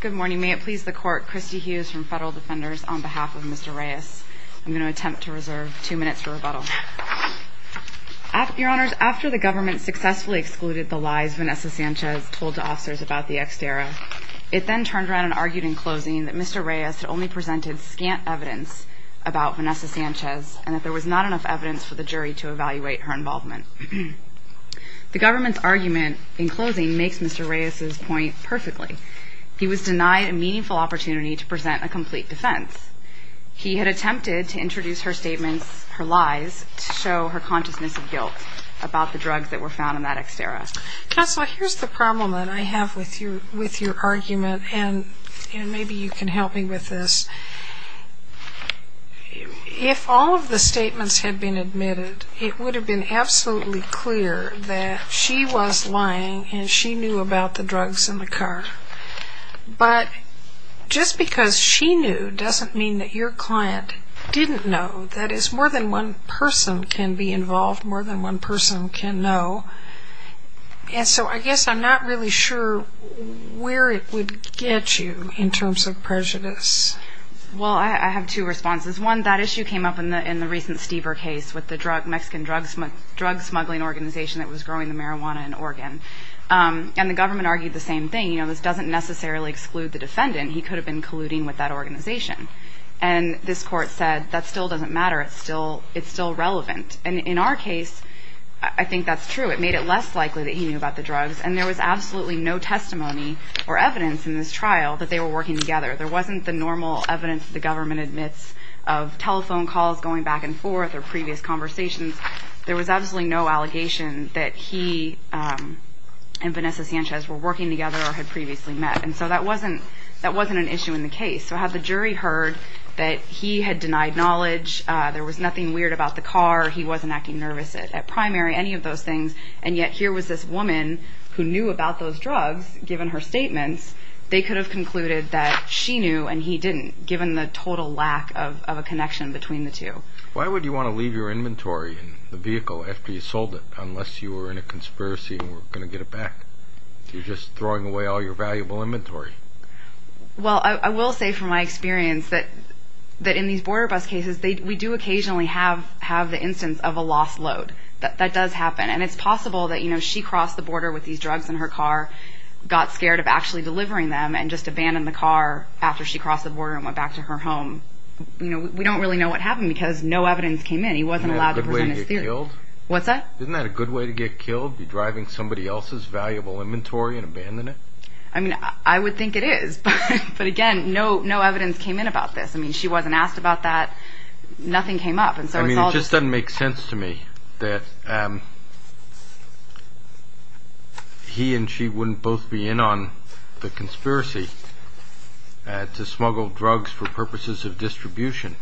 Good morning. May it please the court, Christy Hughes from Federal Defenders on behalf of Mr. Reyes. I'm going to attempt to reserve two minutes for rebuttal. Your Honors, after the government successfully excluded the lies Vanessa Sanchez told to officers about the Xdera, it then turned around and argued in closing that Mr. Reyes had only presented scant evidence about Vanessa Sanchez and that there was not enough evidence for the jury to evaluate her involvement. The government's argument in closing makes Mr. Reyes' point perfectly. He was denied a meaningful opportunity to present a complete defense. He had attempted to introduce her statements, her lies, to show her consciousness of guilt about the drugs that were found in that Xdera. Counsel, here's the problem that I have with your argument, and maybe you can help me with this. If all of the statements had been admitted, it would have been absolutely clear that she was lying and she knew about the drugs in the car. But just because she knew doesn't mean that your client didn't know. That is, more than one person can be involved, more than one person can know. And so I guess I'm not really sure where it would get you in terms of prejudice. Well, I have two responses. One, that issue came up in the recent Stever case with the Mexican drug smuggling organization that was growing the marijuana in Oregon. And the government argued the same thing. You know, this doesn't necessarily exclude the defendant. He could have been colluding with that organization. And this court said that still doesn't matter. It's still relevant. And in our case, I think that's true. It made it less likely that he knew about the drugs. And there was absolutely no testimony or evidence in this trial that they were working together. There wasn't the normal evidence the government admits of telephone calls going back and forth or previous conversations. There was absolutely no allegation that he and Vanessa Sanchez were working together or had previously met. And so that wasn't an issue in the case. So had the jury heard that he had denied knowledge, there was nothing weird about the car, he wasn't acting nervous at primary, any of those things, and yet here was this woman who knew about those drugs, given her statements, they could have concluded that she knew and he didn't, given the total lack of a connection between the two. Why would you want to leave your inventory in the vehicle after you sold it, unless you were in a conspiracy and were going to get it back? You're just throwing away all your valuable inventory. Well, I will say from my experience that in these border bus cases, we do occasionally have the instance of a lost load. That does happen. And it's possible that, you know, she crossed the border with these drugs in her car, got scared of actually delivering them, and just abandoned the car after she crossed the border and went back to her home. You know, we don't really know what happened because no evidence came in. He wasn't allowed to present his theory. Isn't that a good way to get killed? What's that? Isn't that a good way to get killed, be driving somebody else's valuable inventory and abandon it? I mean, I would think it is. But, again, no evidence came in about this. I mean, she wasn't asked about that. Nothing came up. I mean, it just doesn't make sense to me that he and she wouldn't both be in on the conspiracy to smuggle drugs for purposes of distribution,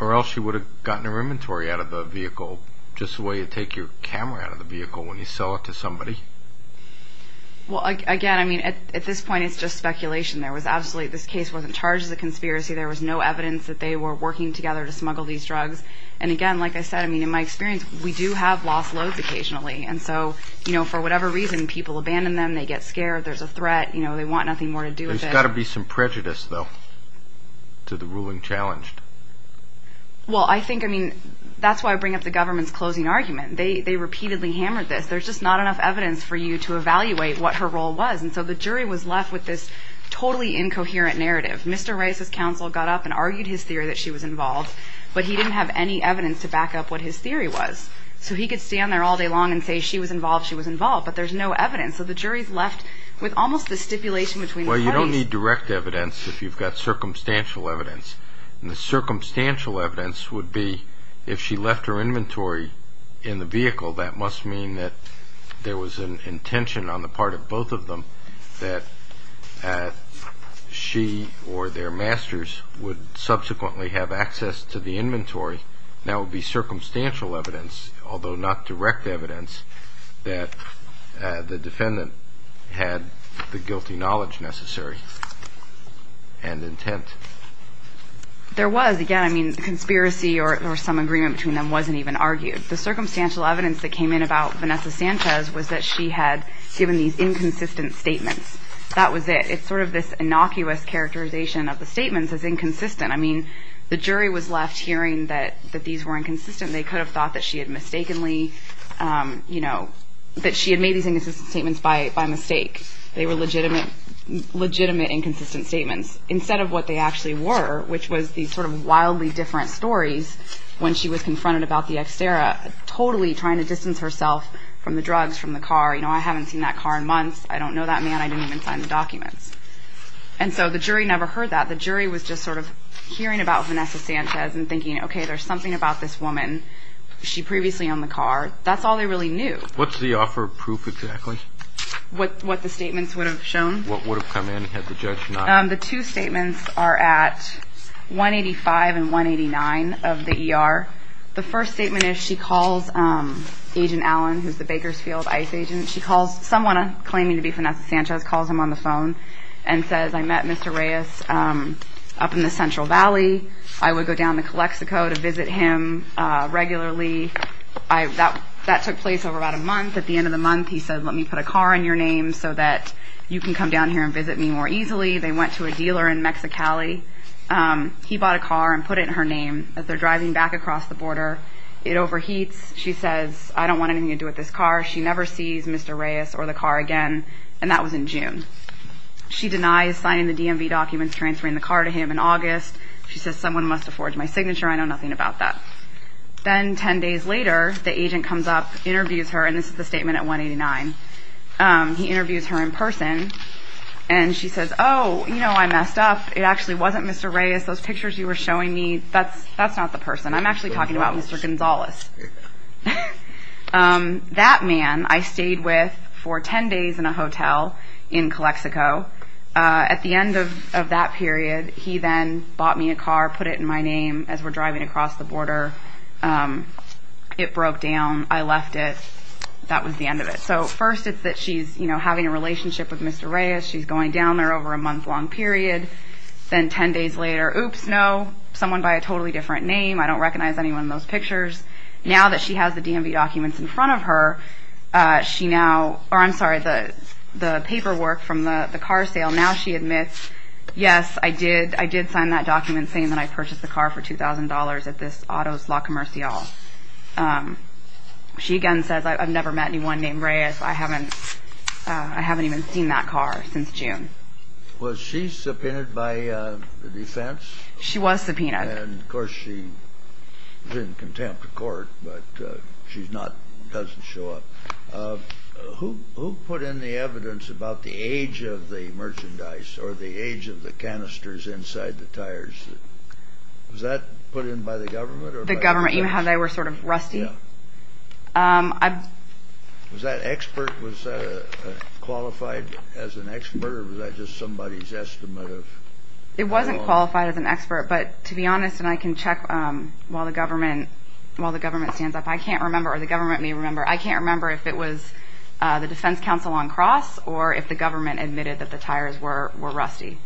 or else she would have gotten her inventory out of the vehicle, just the way you take your camera out of the vehicle when you sell it to somebody. Well, again, I mean, at this point it's just speculation. This case wasn't charged as a conspiracy. There was no evidence that they were working together to smuggle these drugs. And, again, like I said, I mean, in my experience, we do have lost loads occasionally. And so, you know, for whatever reason, people abandon them. They get scared. There's a threat. You know, they want nothing more to do with it. There's got to be some prejudice, though, to the ruling challenged. Well, I think, I mean, that's why I bring up the government's closing argument. They repeatedly hammered this. There's just not enough evidence for you to evaluate what her role was. And so the jury was left with this totally incoherent narrative. Mr. Rice's counsel got up and argued his theory that she was involved, but he didn't have any evidence to back up what his theory was. So he could stand there all day long and say she was involved, she was involved, but there's no evidence. So the jury's left with almost this stipulation between the parties. Well, you don't need direct evidence if you've got circumstantial evidence. And the circumstantial evidence would be if she left her inventory in the vehicle, that must mean that there was an intention on the part of both of them that she or their masters would subsequently have access to the inventory. That would be circumstantial evidence, although not direct evidence, that the defendant had the guilty knowledge necessary and intent. There was. Again, I mean, conspiracy or some agreement between them wasn't even argued. The circumstantial evidence that came in about Vanessa Sanchez was that she had given these inconsistent statements. That was it. It's sort of this innocuous characterization of the statements as inconsistent. I mean, the jury was left hearing that these were inconsistent. They could have thought that she had mistakenly, you know, that she had made these inconsistent statements by mistake. They were legitimate inconsistent statements instead of what they actually were, which was these sort of wildly different stories when she was confronted about the Xterra, totally trying to distance herself from the drugs, from the car. You know, I haven't seen that car in months. I don't know that man. I didn't even sign the documents. And so the jury never heard that. The jury was just sort of hearing about Vanessa Sanchez and thinking, okay, there's something about this woman. She previously owned the car. That's all they really knew. What's the offer of proof exactly? What the statements would have shown. What would have come in had the judge not? The two statements are at 185 and 189 of the ER. The first statement is she calls Agent Allen, who's the Bakersfield ICE agent. She calls someone claiming to be Vanessa Sanchez, calls him on the phone, and says, I met Mr. Reyes up in the Central Valley. I would go down to Calexico to visit him regularly. That took place over about a month. At the end of the month, he said, let me put a car in your name so that you can come down here and visit me more easily. They went to a dealer in Mexicali. He bought a car and put it in her name as they're driving back across the border. It overheats. She says, I don't want anything to do with this car. She never sees Mr. Reyes or the car again, and that was in June. She denies signing the DMV documents transferring the car to him in August. She says, someone must have forged my signature. I know nothing about that. Then 10 days later, the agent comes up, interviews her, and this is the statement at 189. He interviews her in person, and she says, oh, you know, I messed up. It actually wasn't Mr. Reyes. Those pictures you were showing me, that's not the person. I'm actually talking about Mr. Gonzales. That man I stayed with for 10 days in a hotel in Calexico. At the end of that period, he then bought me a car, put it in my name as we're driving across the border. It broke down. I left it. That was the end of it. So first it's that she's, you know, having a relationship with Mr. Reyes. She's going down there over a month-long period. Then 10 days later, oops, no, someone by a totally different name. I don't recognize anyone in those pictures. Now that she has the DMV documents in front of her, she now, or I'm sorry, the paperwork from the car sale, now she admits, yes, I did sign that document saying that I purchased the car for $2,000 at this Otto's La Comercial. She again says, I've never met anyone named Reyes. I haven't even seen that car since June. Was she subpoenaed by the defense? She was subpoenaed. Of course, she's in contempt of court, but she's not, doesn't show up. Who put in the evidence about the age of the merchandise or the age of the canisters inside the tires? Was that put in by the government? The government, how they were sort of rusty. Was that expert, was that qualified as an expert, or was that just somebody's estimate of how long? It wasn't qualified as an expert, but to be honest, and I can check while the government stands up, I can't remember, or the government may remember, I can't remember if it was the defense counsel on cross or if the government admitted that the tires were rusty.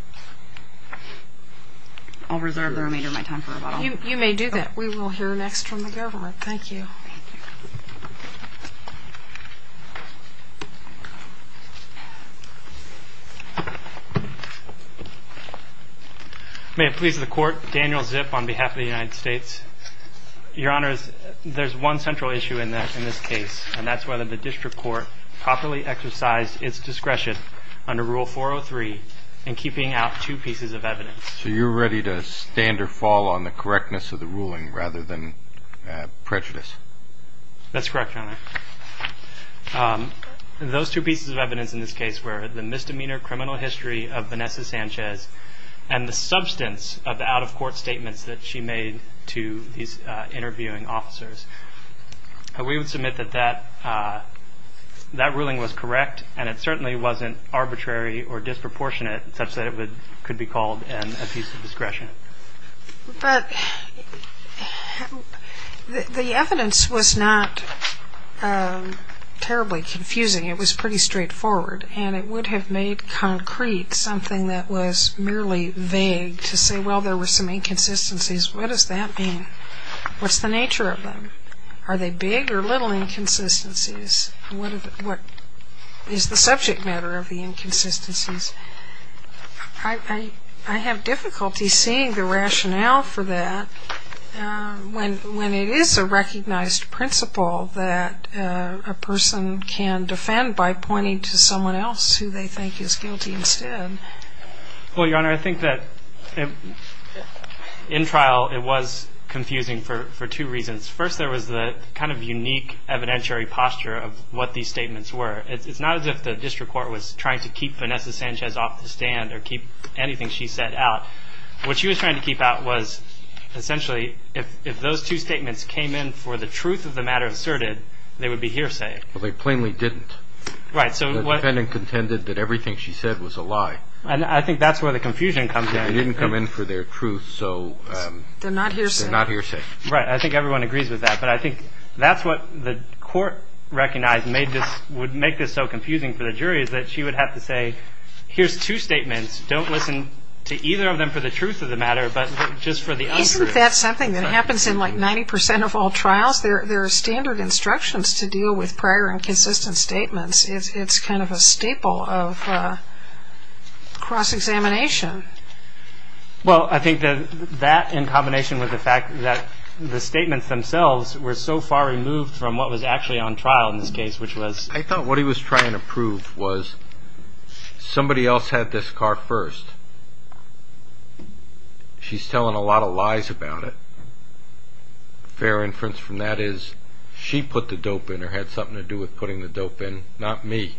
I'll reserve the remainder of my time for rebuttal. You may do that. We will hear next from the government. Thank you. May it please the court, Daniel Zip on behalf of the United States. Your Honors, there's one central issue in this case, and that's whether the district court properly exercised its discretion under Rule 403 in keeping out two pieces of evidence. So you're ready to stand or fall on the correctness of the ruling rather than prejudice? That's correct, Your Honor. Those two pieces of evidence in this case were the misdemeanor criminal history of Vanessa Sanchez and the substance of the out-of-court statements that she made to these interviewing officers. We would submit that that ruling was correct, and it certainly wasn't arbitrary or disproportionate such that it could be called a piece of discretion. But the evidence was not terribly confusing. It was pretty straightforward, and it would have made concrete something that was merely vague to say, well, there were some inconsistencies. What does that mean? What's the nature of them? Are they big or little inconsistencies? What is the subject matter of the inconsistencies? I have difficulty seeing the rationale for that when it is a recognized principle that a person can defend by pointing to someone else who they think is guilty instead. Well, Your Honor, I think that in trial it was confusing for two reasons. First, there was the kind of unique evidentiary posture of what these statements were. It's not as if the district court was trying to keep Vanessa Sanchez off the stand or keep anything she said out. What she was trying to keep out was essentially if those two statements came in for the truth of the matter asserted, they would be hearsay. But they plainly didn't. Right. The defendant contended that everything she said was a lie. I think that's where the confusion comes in. They didn't come in for their truth, so they're not hearsay. They're not hearsay. Right. I think everyone agrees with that. But I think that's what the court recognized would make this so confusing for the jury is that she would have to say, here's two statements. Don't listen to either of them for the truth of the matter, but just for the untruth. Isn't that something that happens in, like, 90 percent of all trials? There are standard instructions to deal with prior and consistent statements. It's kind of a staple of cross-examination. Well, I think that that in combination with the fact that the statements themselves were so far removed from what was actually on trial in this case, which was... I thought what he was trying to prove was somebody else had this car first. She's telling a lot of lies about it. Fair inference from that is she put the dope in or had something to do with putting the dope in, not me.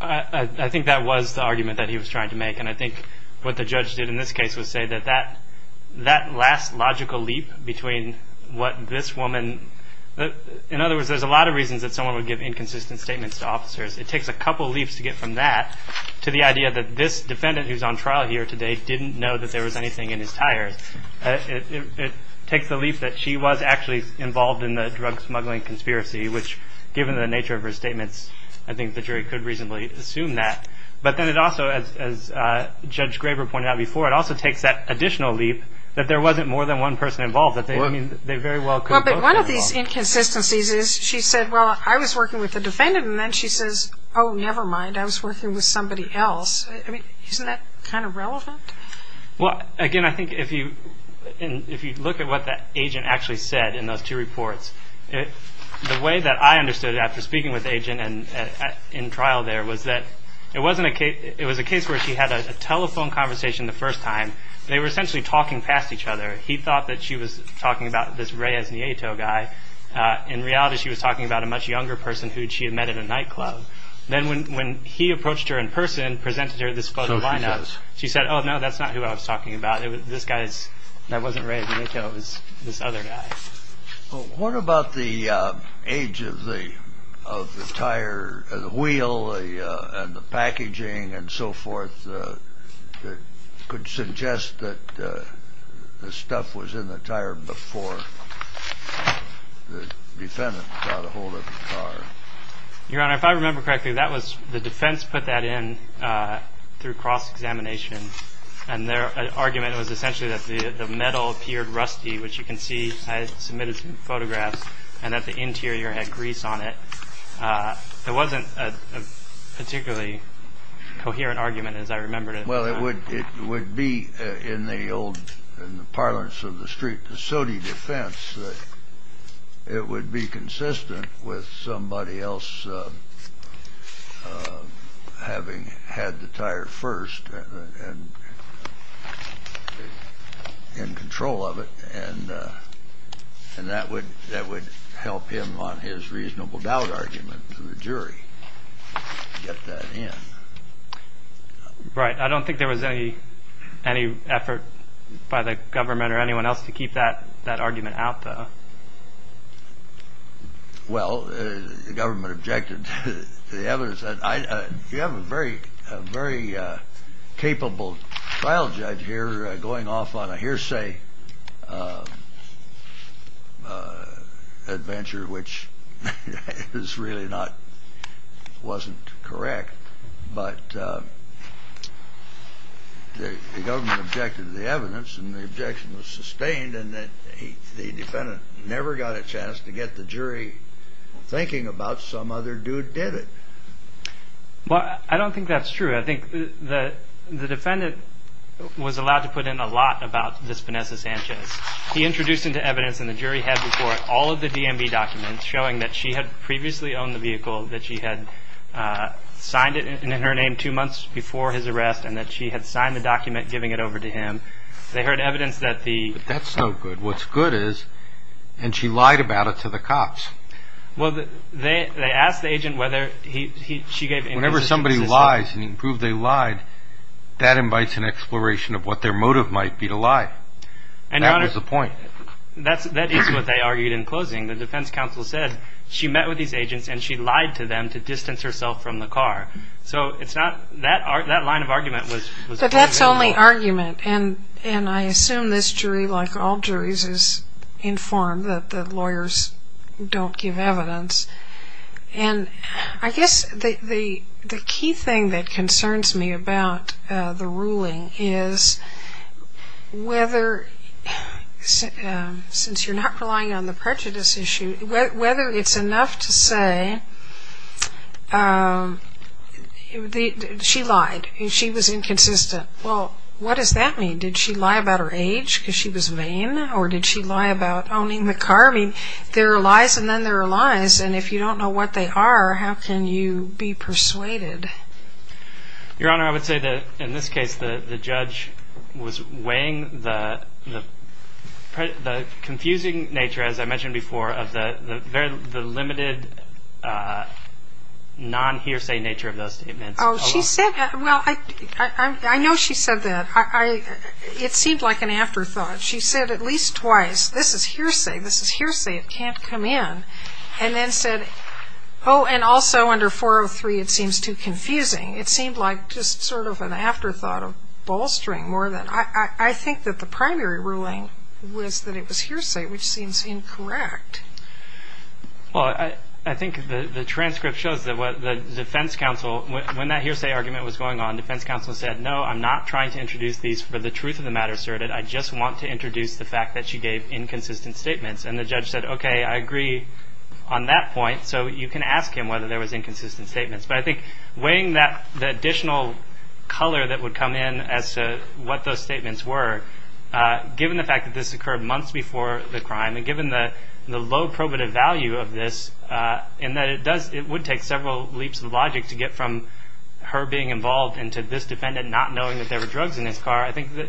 I think that was the argument that he was trying to make, and I think what the judge did in this case was say that that last logical leap between what this woman... In other words, there's a lot of reasons that someone would give inconsistent statements to officers. It takes a couple leaps to get from that to the idea that this defendant who's on trial here today didn't know that there was anything in his tires. It takes the leap that she was actually involved in the drug smuggling conspiracy, which given the nature of her statements, I think the jury could reasonably assume that. But then it also, as Judge Graber pointed out before, it also takes that additional leap that there wasn't more than one person involved, that they very well could... Well, but one of these inconsistencies is she said, well, I was working with the defendant, and then she says, oh, never mind, I was working with somebody else. I mean, isn't that kind of relevant? Well, again, I think if you look at what the agent actually said in those two reports, the way that I understood it after speaking with the agent in trial there was that it wasn't a case... It was a case where she had a telephone conversation the first time. They were essentially talking past each other. He thought that she was talking about this Reyes Nieto guy. In reality, she was talking about a much younger person who she had met at a nightclub. Then when he approached her in person, presented her this photo lineup... So she says. She said, oh, no, that's not who I was talking about. This guy's... that wasn't Reyes Nieto. It was this other guy. Well, what about the age of the tire, the wheel, and the packaging and so forth that could suggest that the stuff was in the tire before the defendant got a hold of the car? Your Honor, if I remember correctly, the defense put that in through cross-examination, and their argument was essentially that the metal appeared rusty, which you can see I submitted some photographs, and that the interior had grease on it. There wasn't a particularly coherent argument, as I remember it. Well, it would be in the old parlance of the street, the SOTI defense, that it would be consistent with somebody else having had the tire first and in control of it, and that would help him on his reasonable doubt argument to the jury get that in. Right. I don't think there was any effort by the government or anyone else to keep that argument out, though. Well, the government objected to the evidence. You have a very capable trial judge here going off on a hearsay adventure, which really wasn't correct. But the government objected to the evidence, and the objection was sustained, and the defendant never got a chance to get the jury thinking about some other dude did it. Well, I don't think that's true. I think the defendant was allowed to put in a lot about this Vanessa Sanchez. He introduced into evidence, and the jury had before it all of the DMV documents showing that she had previously owned the vehicle, that she had signed it in her name two months before his arrest, and that she had signed the document giving it over to him. They heard evidence that the... But that's no good. What's good is, and she lied about it to the cops. Well, they asked the agent whether she gave inconsistent... Whenever somebody lies, and he proved they lied, that invites an exploration of what their motive might be to lie. That was the point. That is what they argued in closing. The defense counsel said she met with these agents, and she lied to them to distance herself from the car. So that line of argument was... But that's only argument, and I assume this jury, like all juries, is informed that the lawyers don't give evidence. And I guess the key thing that concerns me about the ruling is, whether, since you're not relying on the prejudice issue, whether it's enough to say she lied, and she was inconsistent. Well, what does that mean? Did she lie about her age because she was vain, or did she lie about owning the car? I mean, there are lies, and then there are lies, and if you don't know what they are, how can you be persuaded? Your Honor, I would say that, in this case, the judge was weighing the confusing nature, as I mentioned before, of the limited non-hearsay nature of those statements. Oh, she said that. Well, I know she said that. It seemed like an afterthought. She said at least twice, this is hearsay, this is hearsay, it can't come in, and then said, oh, and also under 403, it seems too confusing. It seemed like just sort of an afterthought of bolstering more than. I think that the primary ruling was that it was hearsay, which seems incorrect. Well, I think the transcript shows that the defense counsel, when that hearsay argument was going on, defense counsel said, no, I'm not trying to introduce these for the truth of the matter asserted, I just want to introduce the fact that she gave inconsistent statements. And the judge said, okay, I agree on that point, so you can ask him whether there was inconsistent statements. But I think weighing the additional color that would come in as to what those statements were, given the fact that this occurred months before the crime, and given the low probative value of this, and that it would take several leaps of logic to get from her being involved and to this defendant not knowing that there were drugs in his car, I think that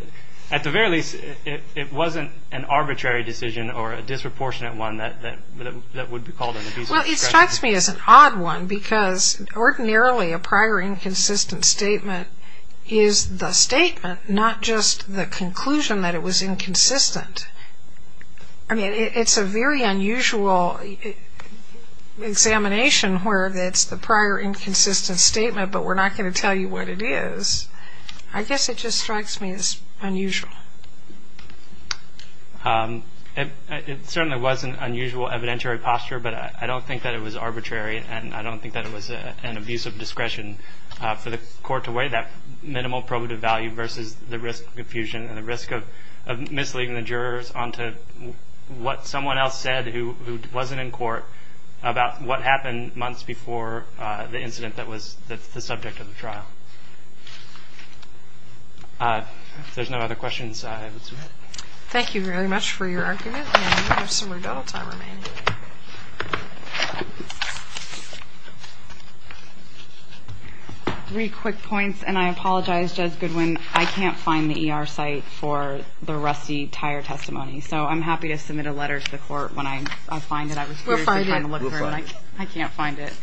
at the very least it wasn't an arbitrary decision or a disproportionate one that would be called an abuse of discretion. Well, it strikes me as an odd one, because ordinarily a prior inconsistent statement is the statement, not just the conclusion that it was inconsistent. I mean, it's a very unusual examination where it's the prior inconsistent statement, but we're not going to tell you what it is. I guess it just strikes me as unusual. It certainly was an unusual evidentiary posture, but I don't think that it was arbitrary and I don't think that it was an abuse of discretion for the court to weigh that minimal probative value versus the risk of confusion and the risk of misleading the jurors onto what someone else said who wasn't in court about what happened months before the incident that was the subject of the trial. If there's no other questions, I would submit. Thank you very much for your argument, and we have some redoubled time remaining. Three quick points, and I apologize, Judge Goodwin. I can't find the ER site for the rusty tire testimony, so I'm happy to submit a letter to the court when I find it. We'll find it. I can't find it.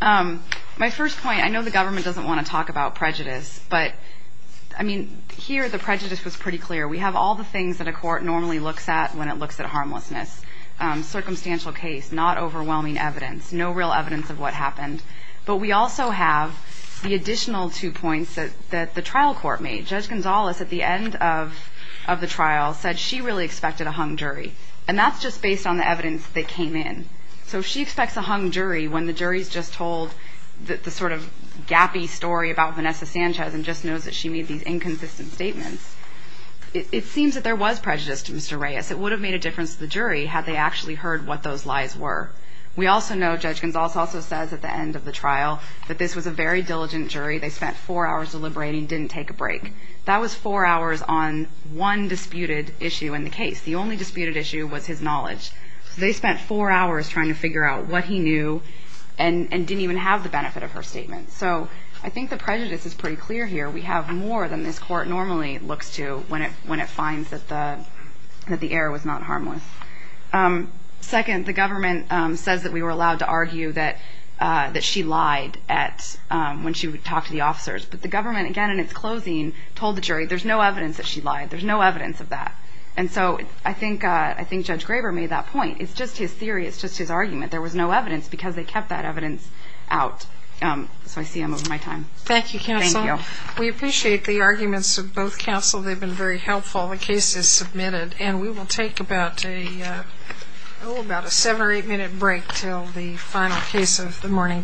My first point, I know the government doesn't want to talk about prejudice, but, I mean, here the prejudice was pretty clear. We have all the things that a court normally looks at when it looks at harmlessness. Circumstantial case, not overwhelming evidence, no real evidence of what happened, but we also have the additional two points that the trial court made. Judge Gonzales at the end of the trial said she really expected a hung jury, and that's just based on the evidence that came in. So she expects a hung jury when the jury's just told the sort of gappy story about Vanessa Sanchez and just knows that she made these inconsistent statements. It seems that there was prejudice to Mr. Reyes. It would have made a difference to the jury had they actually heard what those lies were. We also know, Judge Gonzales also says at the end of the trial, that this was a very diligent jury. They spent four hours deliberating, didn't take a break. That was four hours on one disputed issue in the case. The only disputed issue was his knowledge. They spent four hours trying to figure out what he knew and didn't even have the benefit of her statement. So I think the prejudice is pretty clear here. We have more than this court normally looks to when it finds that the error was not harmless. Second, the government says that we were allowed to argue that she lied when she would talk to the officers. But the government, again in its closing, told the jury there's no evidence that she lied. There's no evidence of that. And so I think Judge Graber made that point. It's just his theory. It's just his argument. There was no evidence because they kept that evidence out. So I see I'm over my time. Thank you, Counsel. Thank you. We appreciate the arguments of both counsel. They've been very helpful. The case is submitted. And we will take about a seven or eight-minute break until the final case of the morning docket.